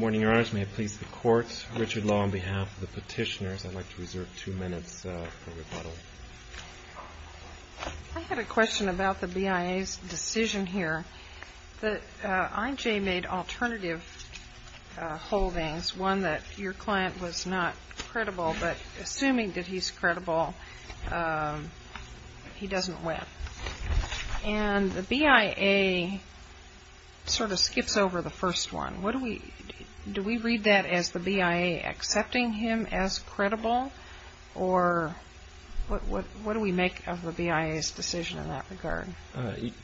I had a question about the BIA's decision here. I.J. made alternative holdings, one that your client was not credible, but assuming that he's credible, he doesn't win. And the BIA sort of skips over the first one. Do we read that as the BIA accepting him as credible, or what do we make of the BIA's decision in that regard?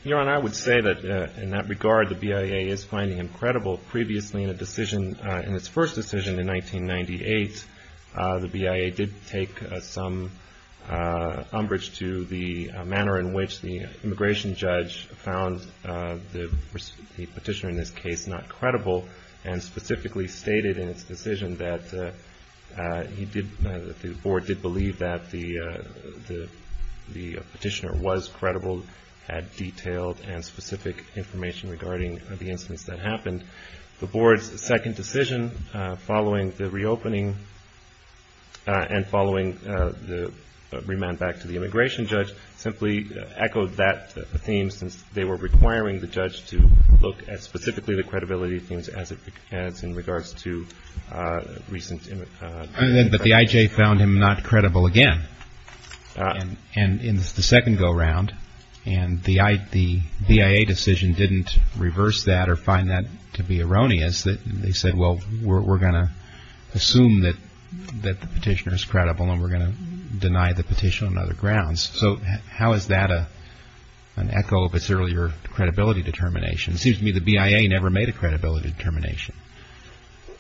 Your Honor, I would say that in that regard, the BIA is finding him credible. Previously in a decision, in its first decision in 1998, the BIA did take some umbrage to the manner in which the immigration judge found the petitioner in this case not credible, and specifically stated in its decision that the board did believe that the petitioner was credible. The BIA had detailed and specific information regarding the instance that happened. The board's second decision following the reopening and following the remand back to the immigration judge simply echoed that theme, since they were requiring the judge to look at specifically the credibility themes as in regards to recent immigration. But the I.J. found him not credible again. And in the second go-round, and the BIA decision didn't reverse that or find that to be erroneous, they said, well, we're going to assume that the petitioner is credible and we're going to deny the petition on other grounds. So how is that an echo of its earlier credibility determination? It seems to me the BIA never made a credibility determination.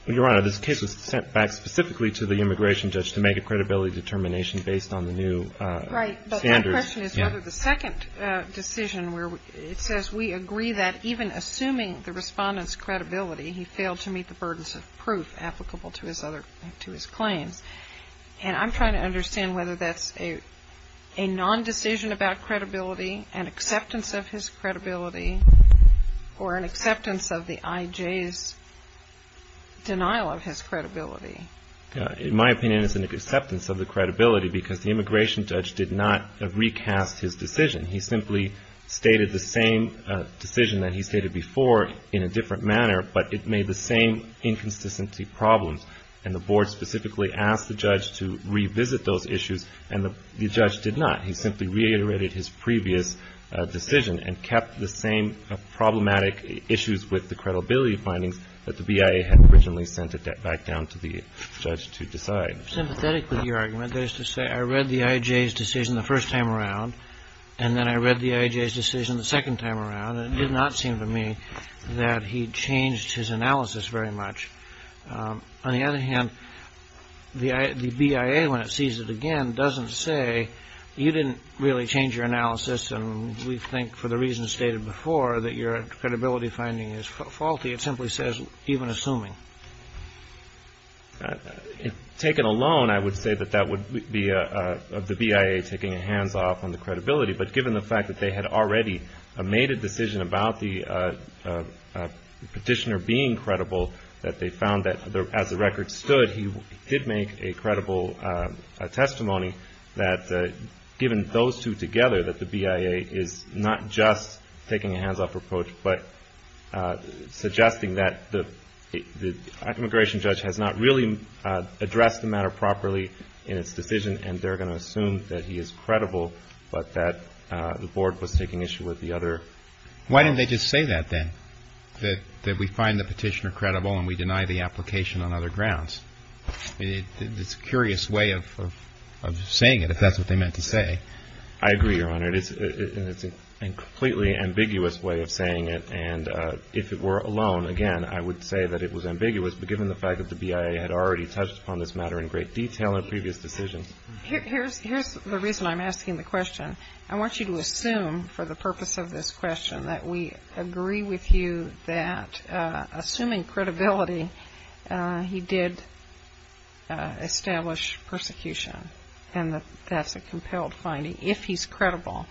Your Honor, this case was sent back specifically to the immigration judge to make a credibility determination based on the new standards. Right. But my question is whether the second decision where it says we agree that even assuming the respondent's credibility, he failed to meet the burdens of proof applicable to his claims. And I'm trying to understand whether that's a nondecision about credibility, an acceptance of his credibility, or an acceptance of the I.J.'s denial of his credibility. In my opinion, it's an acceptance of the credibility because the immigration judge did not recast his decision. He simply stated the same decision that he stated before in a different manner, but it made the same inconsistency problems. And the board specifically asked the judge to revisit those issues, and the judge did not. He simply reiterated his previous decision and kept the same problematic issues with the credibility findings that the BIA had originally sent it back down to the judge to decide. I'm sympathetic with your argument. That is to say, I read the I.J.'s decision the first time around, and then I read the I.J.'s decision the second time around, and it did not seem to me that he changed his analysis very much. On the other hand, the BIA, when it sees it again, doesn't say you didn't really change your analysis, and we think for the reasons stated before that your credibility finding is faulty. It simply says, even assuming. If taken alone, I would say that that would be the BIA taking a hands-off on the credibility, but given the fact that they had already made a decision about the petitioner being credible, that they found that as the record stood, he did make a credible testimony that given those two together, that the BIA is not just taking a hands-off approach, but suggesting that the immigration judge has not really addressed the matter properly in its decision, and they're going to assume that he is credible, but that the Board was taking issue with the other. Why didn't they just say that then, that we find the petitioner credible and we deny the application on other grounds? It's a curious way of saying it, if that's what they meant to say. I agree, Your Honor. It's a completely ambiguous way of saying it, and if it were alone, again, I would say that it was ambiguous, but given the fact that the BIA had already touched upon this matter in great detail in previous decisions. Here's the reason I'm asking the question. I want you to assume, for the purpose of this question, that we agree with you that, assuming credibility, he did establish persecution, and that that's a compelled finding if he's credible.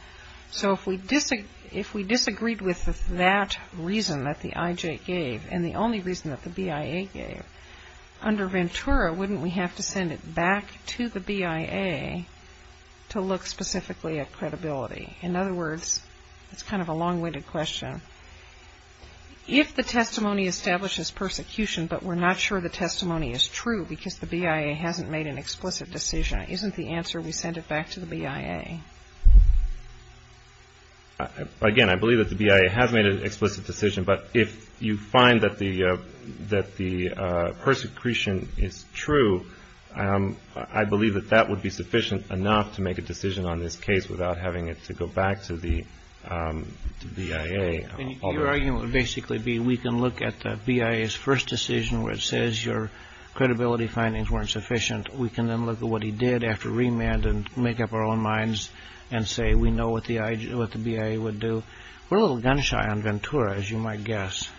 So if we disagreed with that reason that the IJ gave, and the only reason that the BIA gave, under Ventura, wouldn't we have to send it back to the BIA to look specifically at credibility? In other words, it's kind of a long-winded question. If the testimony establishes persecution, but we're not sure the testimony is true because the BIA hasn't made an explicit decision, isn't the answer we send it back to the BIA? Again, I believe that the BIA has made an explicit decision, but if you find that the persecution is true, I believe that that would be sufficient enough to make a decision on this case without having it to go back to the BIA. Your argument would basically be we can look at the BIA's first decision where it says your credibility findings weren't sufficient. We can then look at what he did after remand and make up our own minds and say we know what the BIA would do. We're a little gun-shy on Ventura, as you might guess.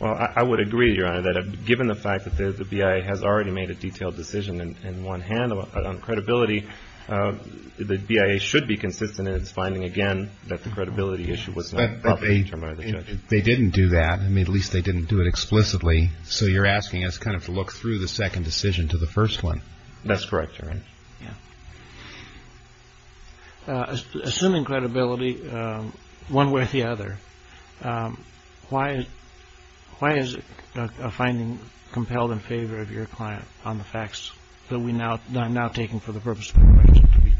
Well, I would agree, Your Honor, that given the fact that the BIA has already made a detailed decision in one hand on credibility, the BIA should be consistent in its finding, again, that the credibility issue was not publicly determined by the judge. But they didn't do that. I mean, at least they didn't do it explicitly. So you're asking us kind of to look through the second decision to the first one. That's correct, Your Honor. Yeah. Assuming credibility, one way or the other, why is a finding compelled in favor of your client on the facts that I'm now taking for the purpose of my question, to be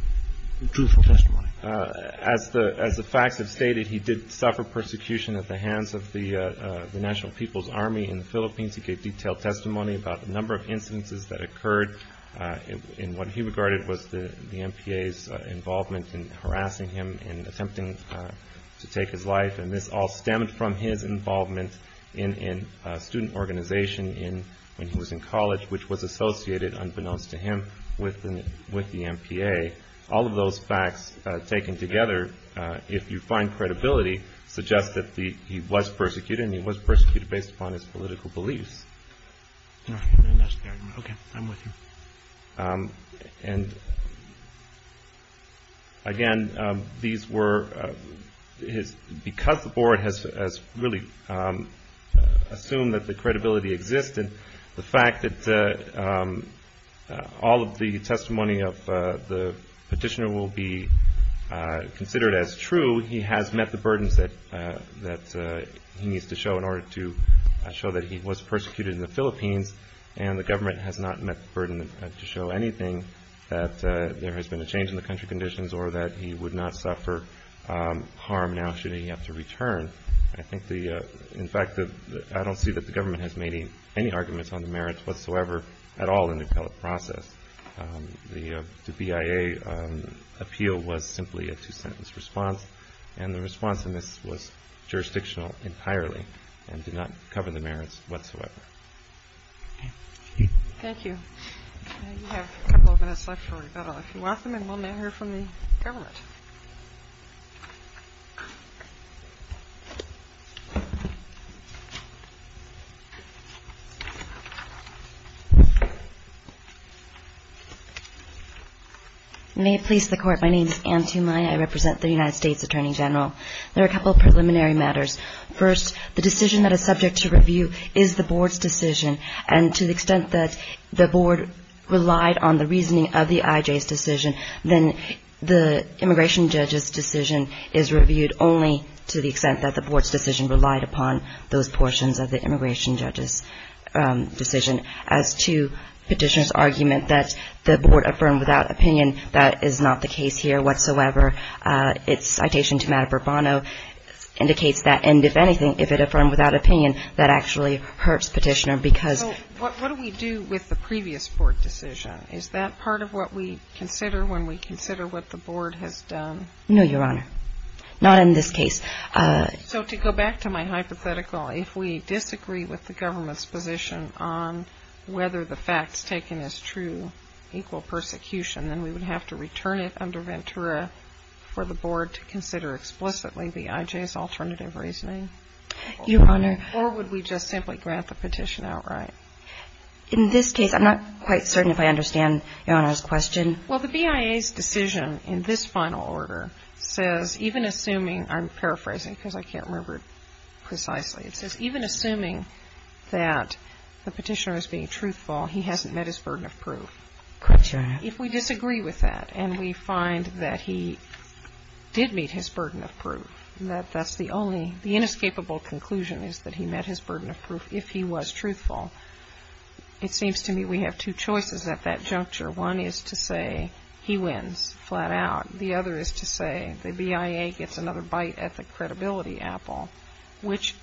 truthful testimony? As the facts have stated, he did suffer persecution at the hands of the National People's Army in the Philippines. He gave detailed testimony about the number of incidences that occurred. And what he regarded was the MPA's involvement in harassing him and attempting to take his life. And this all stemmed from his involvement in a student organization when he was in college, which was associated, unbeknownst to him, with the MPA. All of those facts taken together, if you find credibility, suggest that he was persecuted, and he was persecuted based upon his political beliefs. No, that's fair. Okay, I'm with you. And, again, these were his – because the Board has really assumed that the credibility exists, and the fact that all of the testimony of the petitioner will be considered as true, although he has met the burdens that he needs to show in order to show that he was persecuted in the Philippines, and the government has not met the burden to show anything that there has been a change in the country conditions or that he would not suffer harm now, should he have to return. I think the – in fact, I don't see that the government has made any arguments on the merits whatsoever at all in the appellate process. The BIA appeal was simply a two-sentence response, and the response in this was jurisdictional entirely and did not cover the merits whatsoever. Thank you. Okay, we have a couple of minutes left for rebuttal, if you want them, and we'll now hear from the government. May it please the Court, my name is Anne Tumai. I represent the United States Attorney General. There are a couple of preliminary matters. First, the decision that is subject to review is the Board's decision, and to the extent that the Board relied on the reasoning of the IJ's decision, then the immigration judge's decision is reviewed only to the extent that the Board's decision relied upon those portions of the immigration judge's decision. As to Petitioner's argument that the Board affirmed without opinion, that is not the case here whatsoever. Its citation to Matt Burbano indicates that, and if anything, if it affirmed without opinion, that actually hurts Petitioner because So what do we do with the previous Board decision? Is that part of what we consider when we consider what the Board has done? No, Your Honor. Not in this case. So to go back to my hypothetical, if we disagree with the government's position on whether the facts taken as true, equal persecution, then we would have to return it under Ventura for the Board to consider explicitly the IJ's alternative reasoning? Your Honor. Or would we just simply grant the petition outright? In this case, I'm not quite certain if I understand Your Honor's question. Well, the BIA's decision in this final order says even assuming, I'm paraphrasing because I can't remember it precisely, it says even assuming that the Petitioner is being truthful, he hasn't met his burden of proof. Correct, Your Honor. If we disagree with that and we find that he did meet his burden of proof, that that's the only The inescapable conclusion is that he met his burden of proof if he was truthful. It seems to me we have two choices at that juncture. One is to say he wins flat out. The other is to say the BIA gets another bite at the credibility apple. Which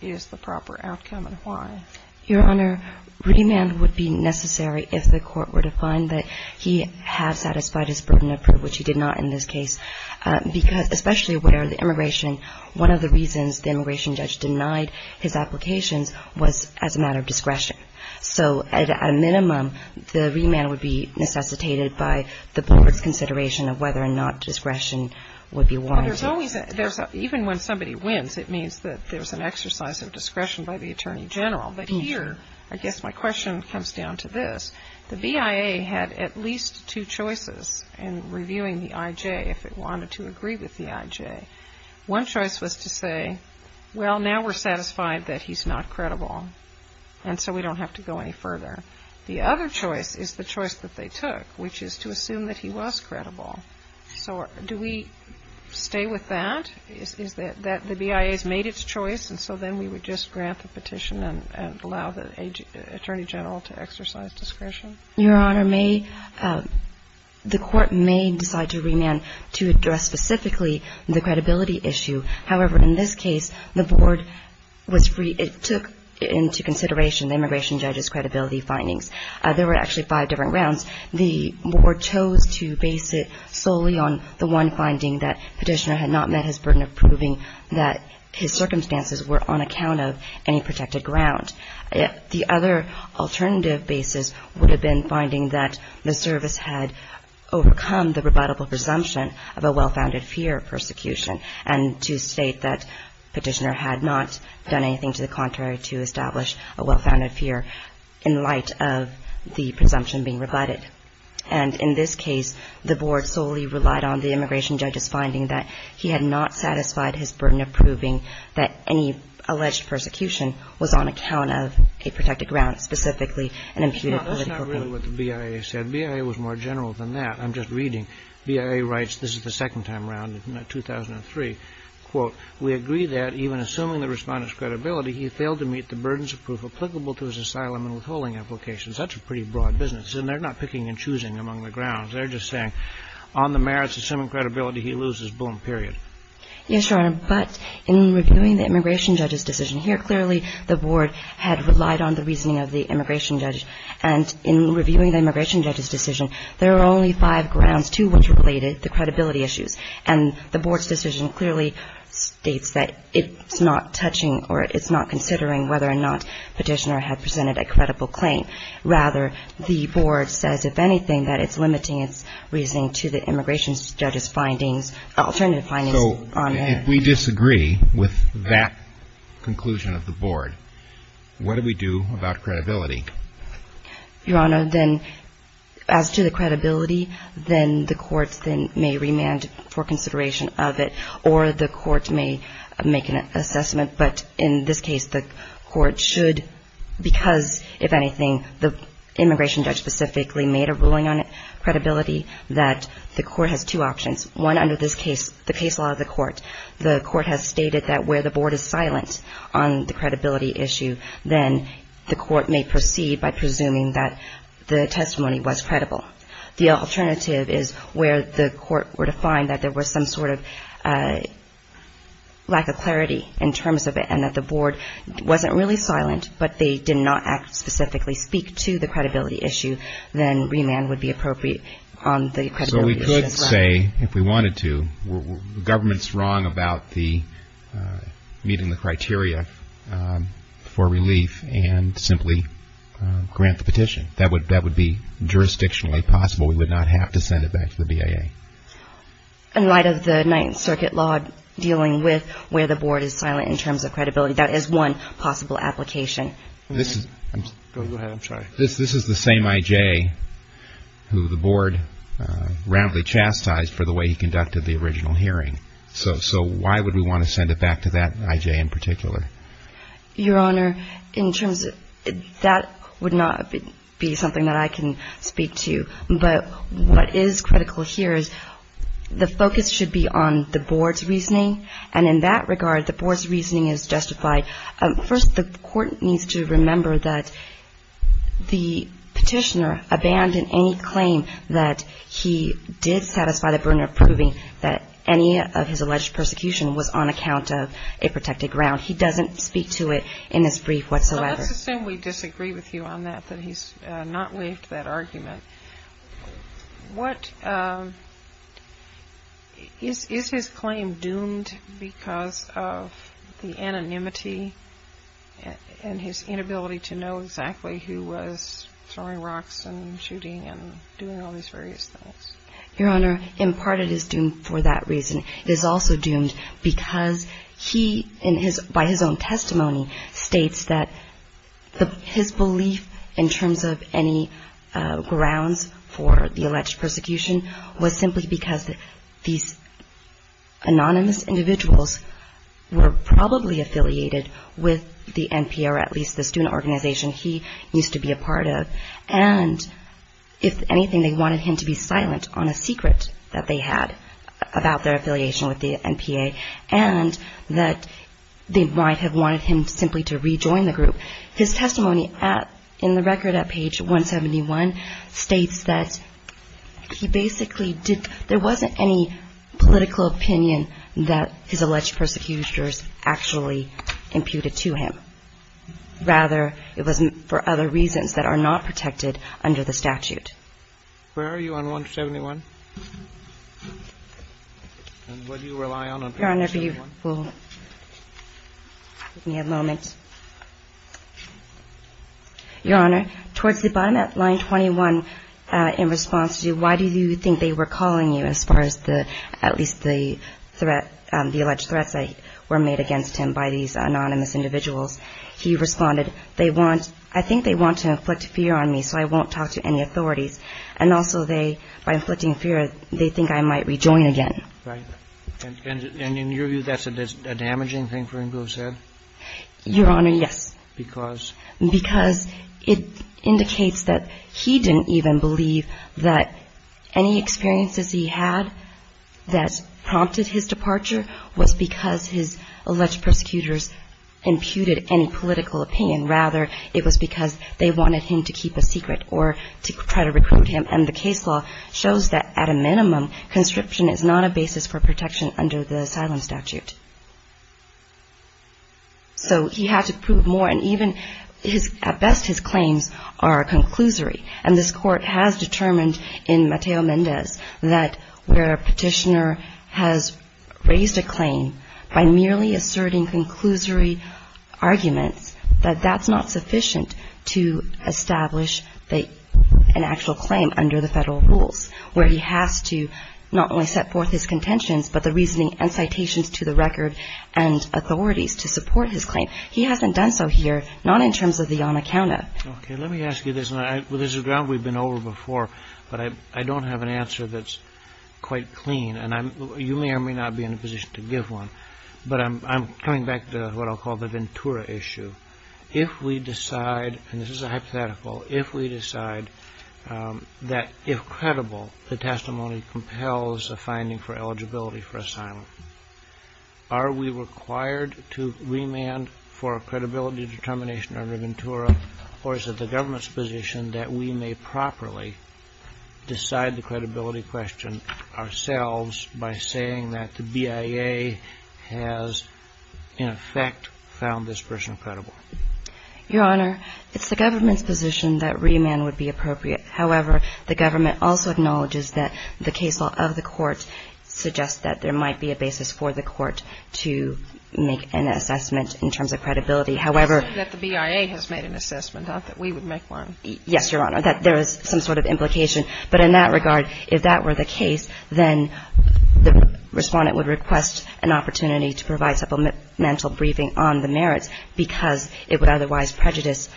is the proper outcome and why? Your Honor, remand would be necessary if the Court were to find that he has satisfied his burden of proof, which he did not in this case. Especially where the immigration, one of the reasons the immigration judge denied his applications was as a matter of discretion. So at a minimum, the remand would be necessitated by the Board's consideration of whether or not discretion would be warranted. Well, there's always a, even when somebody wins, it means that there's an exercise of discretion by the Attorney General. But here, I guess my question comes down to this. The BIA had at least two choices in reviewing the IJ if it wanted to agree with the IJ. One choice was to say, well, now we're satisfied that he's not credible, and so we don't have to go any further. The other choice is the choice that they took, which is to assume that he was credible. So do we stay with that? Is that the BIA's made its choice, and so then we would just grant the petition and allow the Attorney General to exercise discretion? Your Honor, may the Court may decide to remand to address specifically the credibility issue. However, in this case, the Board was free. It took into consideration the immigration judge's credibility findings. There were actually five different rounds. The Board chose to base it solely on the one finding that Petitioner had not met his circumstances were on account of any protected ground. The other alternative basis would have been finding that the service had overcome the rebuttable presumption of a well-founded fear of persecution and to state that Petitioner had not done anything to the contrary to establish a well-founded fear in light of the presumption being rebutted. And in this case, the Board solely relied on the immigration judge's finding that he had not satisfied his burden of proving that any alleged persecution was on account of a protected ground, specifically an imputed political claim. No, that's not really what the BIA said. BIA was more general than that. I'm just reading. BIA writes, this is the second time around, in 2003, quote, We agree that, even assuming the Respondent's credibility, he failed to meet the burdens of proof applicable to his asylum and withholding applications. That's a pretty broad business, and they're not picking and choosing among the grounds. They're just saying, on the merits of assuming credibility, he loses, boom, period. Yes, Your Honor. But in reviewing the immigration judge's decision here, clearly the Board had relied on the reasoning of the immigration judge. And in reviewing the immigration judge's decision, there are only five grounds, two which were related, the credibility issues. And the Board's decision clearly states that it's not touching or it's not considering whether or not Petitioner had presented a credible claim. Rather, the Board says, if anything, that it's limiting its reasoning to the immigration judge's findings, alternative findings. So if we disagree with that conclusion of the Board, what do we do about credibility? Your Honor, then, as to the credibility, then the courts then may remand for consideration of it, or the courts may make an assessment. But in this case, the court should, because, if anything, the immigration judge specifically made a ruling on credibility, that the court has two options. One, under this case, the case law of the court, the court has stated that where the Board is silent on the credibility issue, then the court may proceed by presuming that the testimony was credible. The alternative is where the court were to find that there was some sort of lack of clarity in terms of it, and that the Board wasn't really silent, but they did not act specifically, speak to the credibility issue, then remand would be appropriate on the credibility issue. So we could say, if we wanted to, the government's wrong about the meeting the criteria for relief and simply grant the petition. That would be jurisdictionally possible. We would not have to send it back to the BIA. In light of the Ninth Circuit law dealing with where the Board is silent in terms of credibility, that is one possible application. Go ahead. I'm sorry. This is the same I.J. who the Board roundly chastised for the way he conducted the original hearing. So why would we want to send it back to that I.J. in particular? Your Honor, in terms of that would not be something that I can speak to. But what is critical here is the focus should be on the Board's reasoning. And in that regard, the Board's reasoning is justified. First, the court needs to remember that the petitioner abandoned any claim that he did satisfy the burden of proving that any of his alleged persecution was on account of a protected ground. He doesn't speak to it in this brief whatsoever. Let's assume we disagree with you on that, that he's not waived that argument. Is his claim doomed because of the anonymity and his inability to know exactly who was throwing rocks and shooting and doing all these various things? Your Honor, in part it is doomed for that reason. It is also doomed because he, by his own testimony, states that his belief in terms of any grounds for the alleged persecution was simply because these anonymous individuals were probably affiliated with the NPR, at least the student organization he used to be a part of. And if anything, they wanted him to be silent on a secret that they had about their affiliation with the NPA, and that they might have wanted him simply to rejoin the group. His testimony in the record at page 171 states that he basically did – there wasn't any political opinion that his alleged persecutions actually imputed to him. Rather, it was for other reasons that are not protected under the statute. Where are you on 171? And what do you rely on on page 171? Your Honor, if you will give me a moment. Your Honor, towards the bottom at line 21, in response to you, why do you think they were calling you as far as the – at least the threat – the alleged threats that were made against him by these anonymous individuals? He responded, they want – I think they want to inflict fear on me, so I won't talk to any authorities. And also they – by inflicting fear, they think I might rejoin again. Right. And in your view, that's a damaging thing for him to have said? Your Honor, yes. Because? Because it indicates that he didn't even believe that any experiences he had that prompted his departure was because his alleged persecutors imputed any political opinion. Rather, it was because they wanted him to keep a secret or to try to recruit him. And the case law shows that at a minimum, conscription is not a basis for protection under the asylum statute. So he had to prove more, and even his – at best, his claims are a conclusory. And this Court has determined in Mateo Mendez that where a petitioner has raised a claim by merely asserting conclusory arguments, that that's not sufficient to establish an actual claim under the federal rules, where he has to not only set forth his contentions, but the reasoning and citations to the record and authorities to support his claim. He hasn't done so here, not in terms of the on-accounta. Okay. Let me ask you this. And this is a ground we've been over before, but I don't have an answer that's quite clean. And you may or may not be in a position to give one. But I'm coming back to what I'll call the Ventura issue. If we decide – and this is a hypothetical – if we decide that if credible, the testimony compels a finding for eligibility for asylum, are we required to remand for a credibility determination under Ventura, or is it the government's position that we may properly decide the credibility question ourselves by saying that the BIA has, in effect, found this person credible? Your Honor, it's the government's position that remand would be appropriate. However, the government also acknowledges that the case law of the Court suggests that there might be a basis for the Court to make an assessment in terms of credibility. However – You're saying that the BIA has made an assessment, not that we would make one. Yes, Your Honor. That there is some sort of implication. But in that regard, if that were the case, then the Respondent would request an opportunity to provide supplemental briefing on the merits because it would otherwise prejudice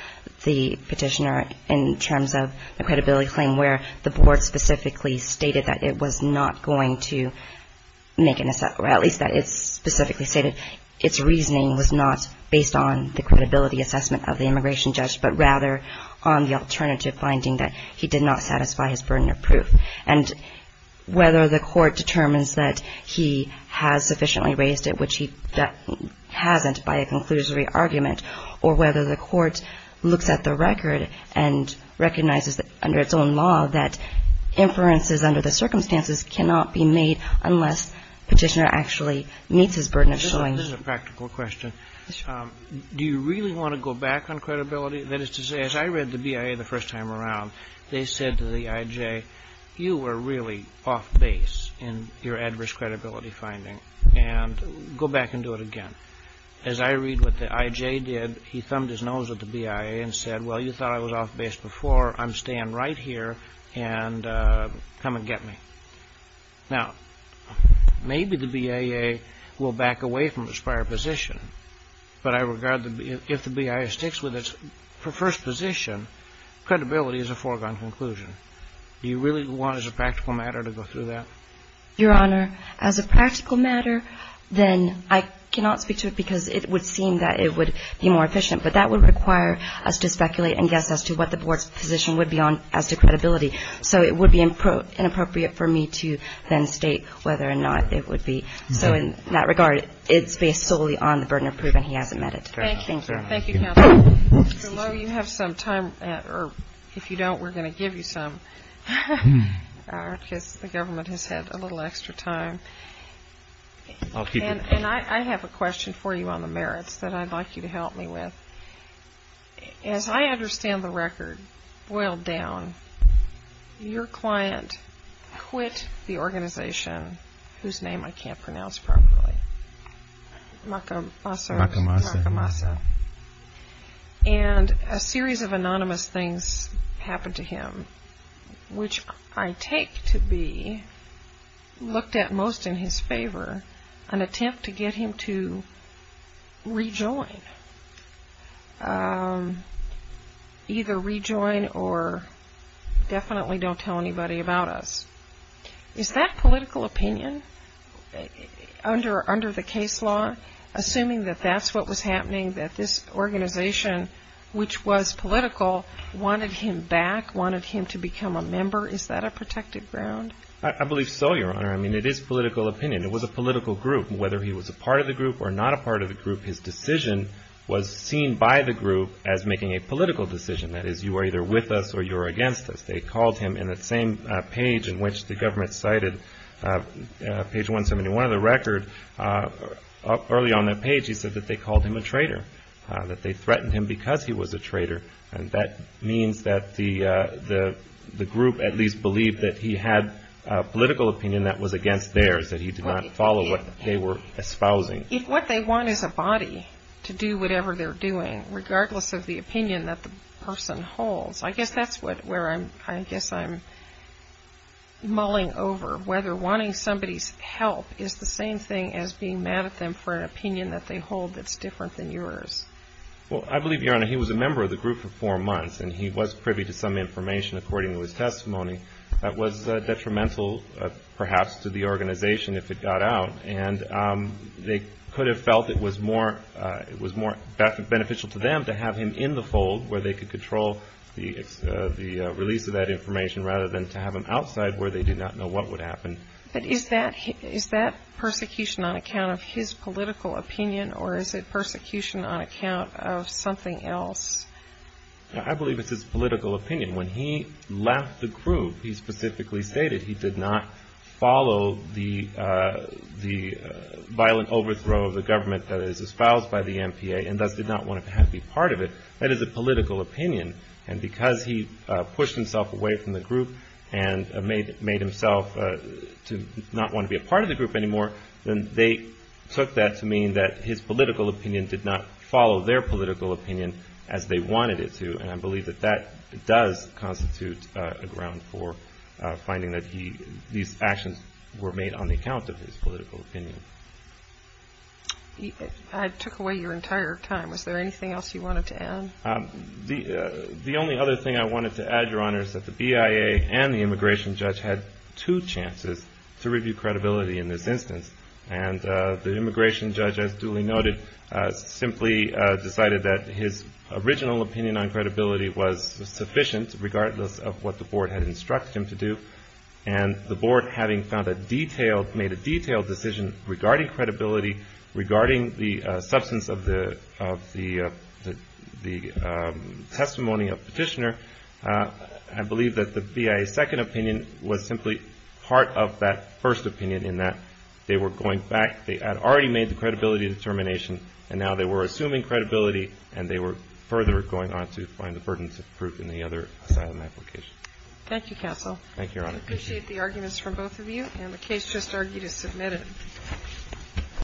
the petitioner in terms of a credibility claim where the Board specifically stated that it was not going to make an – or at least that it specifically stated its reasoning was not based on the credibility assessment of the immigration judge, but rather on the alternative finding that he did not satisfy his burden of proof. And whether the Court determines that he has sufficiently raised it, which he hasn't by a conclusory argument, or whether the Court looks at the record and recognizes under its own law that inferences under the circumstances cannot be made unless the petitioner actually meets his burden of showing – This is a practical question. Do you really want to go back on credibility? That is to say, as I read the BIA the first time around, they said to the I.J., You were really off base in your adverse credibility finding. And go back and do it again. As I read what the I.J. did, he thumbed his nose at the BIA and said, Well, you thought I was off base before. I'm staying right here. And come and get me. Now, maybe the BIA will back away from its prior position, but if the BIA sticks with its first position, credibility is a foregone conclusion. Do you really want, as a practical matter, to go through that? Your Honor, as a practical matter, then I cannot speak to it because it would seem that it would be more efficient. But that would require us to speculate and guess as to what the Board's position would be on as to credibility. So it would be inappropriate for me to then state whether or not it would be. So in that regard, it's based solely on the burden of proving he hasn't met it. Thank you. Thank you, Counsel. Mr. Lowe, you have some time. If you don't, we're going to give you some because the government has had a little extra time. And I have a question for you on the merits that I'd like you to help me with. As I understand the record, boiled down, your client quit the organization whose name I can't pronounce properly, Macamasa. And a series of anonymous things happened to him, which I take to be, looked at most in his favor, an attempt to get him to rejoin. Either rejoin or definitely don't tell anybody about us. Is that political opinion under the case law, assuming that that's what was happening, that this organization, which was political, wanted him back, wanted him to become a member? Is that a protected ground? I believe so, Your Honor. I mean, it is political opinion. It was a political group. Whether he was a part of the group or not a part of the group, his decision was seen by the group as making a political decision. That is, you are either with us or you are against us. They called him in that same page in which the government cited, page 171 of the record, early on that page he said that they called him a traitor, that they threatened him because he was a traitor. And that means that the group at least believed that he had political opinion that was against theirs, that he did not follow what they were espousing. If what they want is a body to do whatever they're doing, regardless of the opinion that the person holds, I guess that's where I guess I'm mulling over, whether wanting somebody's help is the same thing as being mad at them for an opinion that they hold that's different than yours. Well, I believe, Your Honor, he was a member of the group for four months, and he was privy to some information according to his testimony that was detrimental, perhaps, to the organization if it got out. And they could have felt it was more beneficial to them to have him in the fold where they could control the release of that information rather than to have him outside where they did not know what would happen. But is that persecution on account of his political opinion, or is it persecution on account of something else? I believe it's his political opinion. When he left the group, he specifically stated he did not follow the violent overthrow of the government that is espoused by the MPA and thus did not want to be part of it. That is a political opinion. And because he pushed himself away from the group and made himself not want to be a part of the group anymore, then they took that to mean that his political opinion did not follow their political opinion as they wanted it to. And I believe that that does constitute a ground for finding that these actions were made on the account of his political opinion. I took away your entire time. Is there anything else you wanted to add? The only other thing I wanted to add, Your Honors, is that the BIA and the immigration judge had two chances to review credibility in this instance. And the immigration judge, as duly noted, simply decided that his original opinion on credibility was sufficient, regardless of what the Board had instructed him to do. And the Board, having made a detailed decision regarding credibility, regarding the substance of the testimony of Petitioner, had believed that the BIA's second opinion was simply part of that first opinion, in that they were going back. They had already made the credibility determination, and now they were assuming credibility, and they were further going on to find the burdens of proof in the other asylum application. Thank you, Counsel. Thank you, Your Honor. I appreciate the arguments from both of you, and the case just argued is submitted.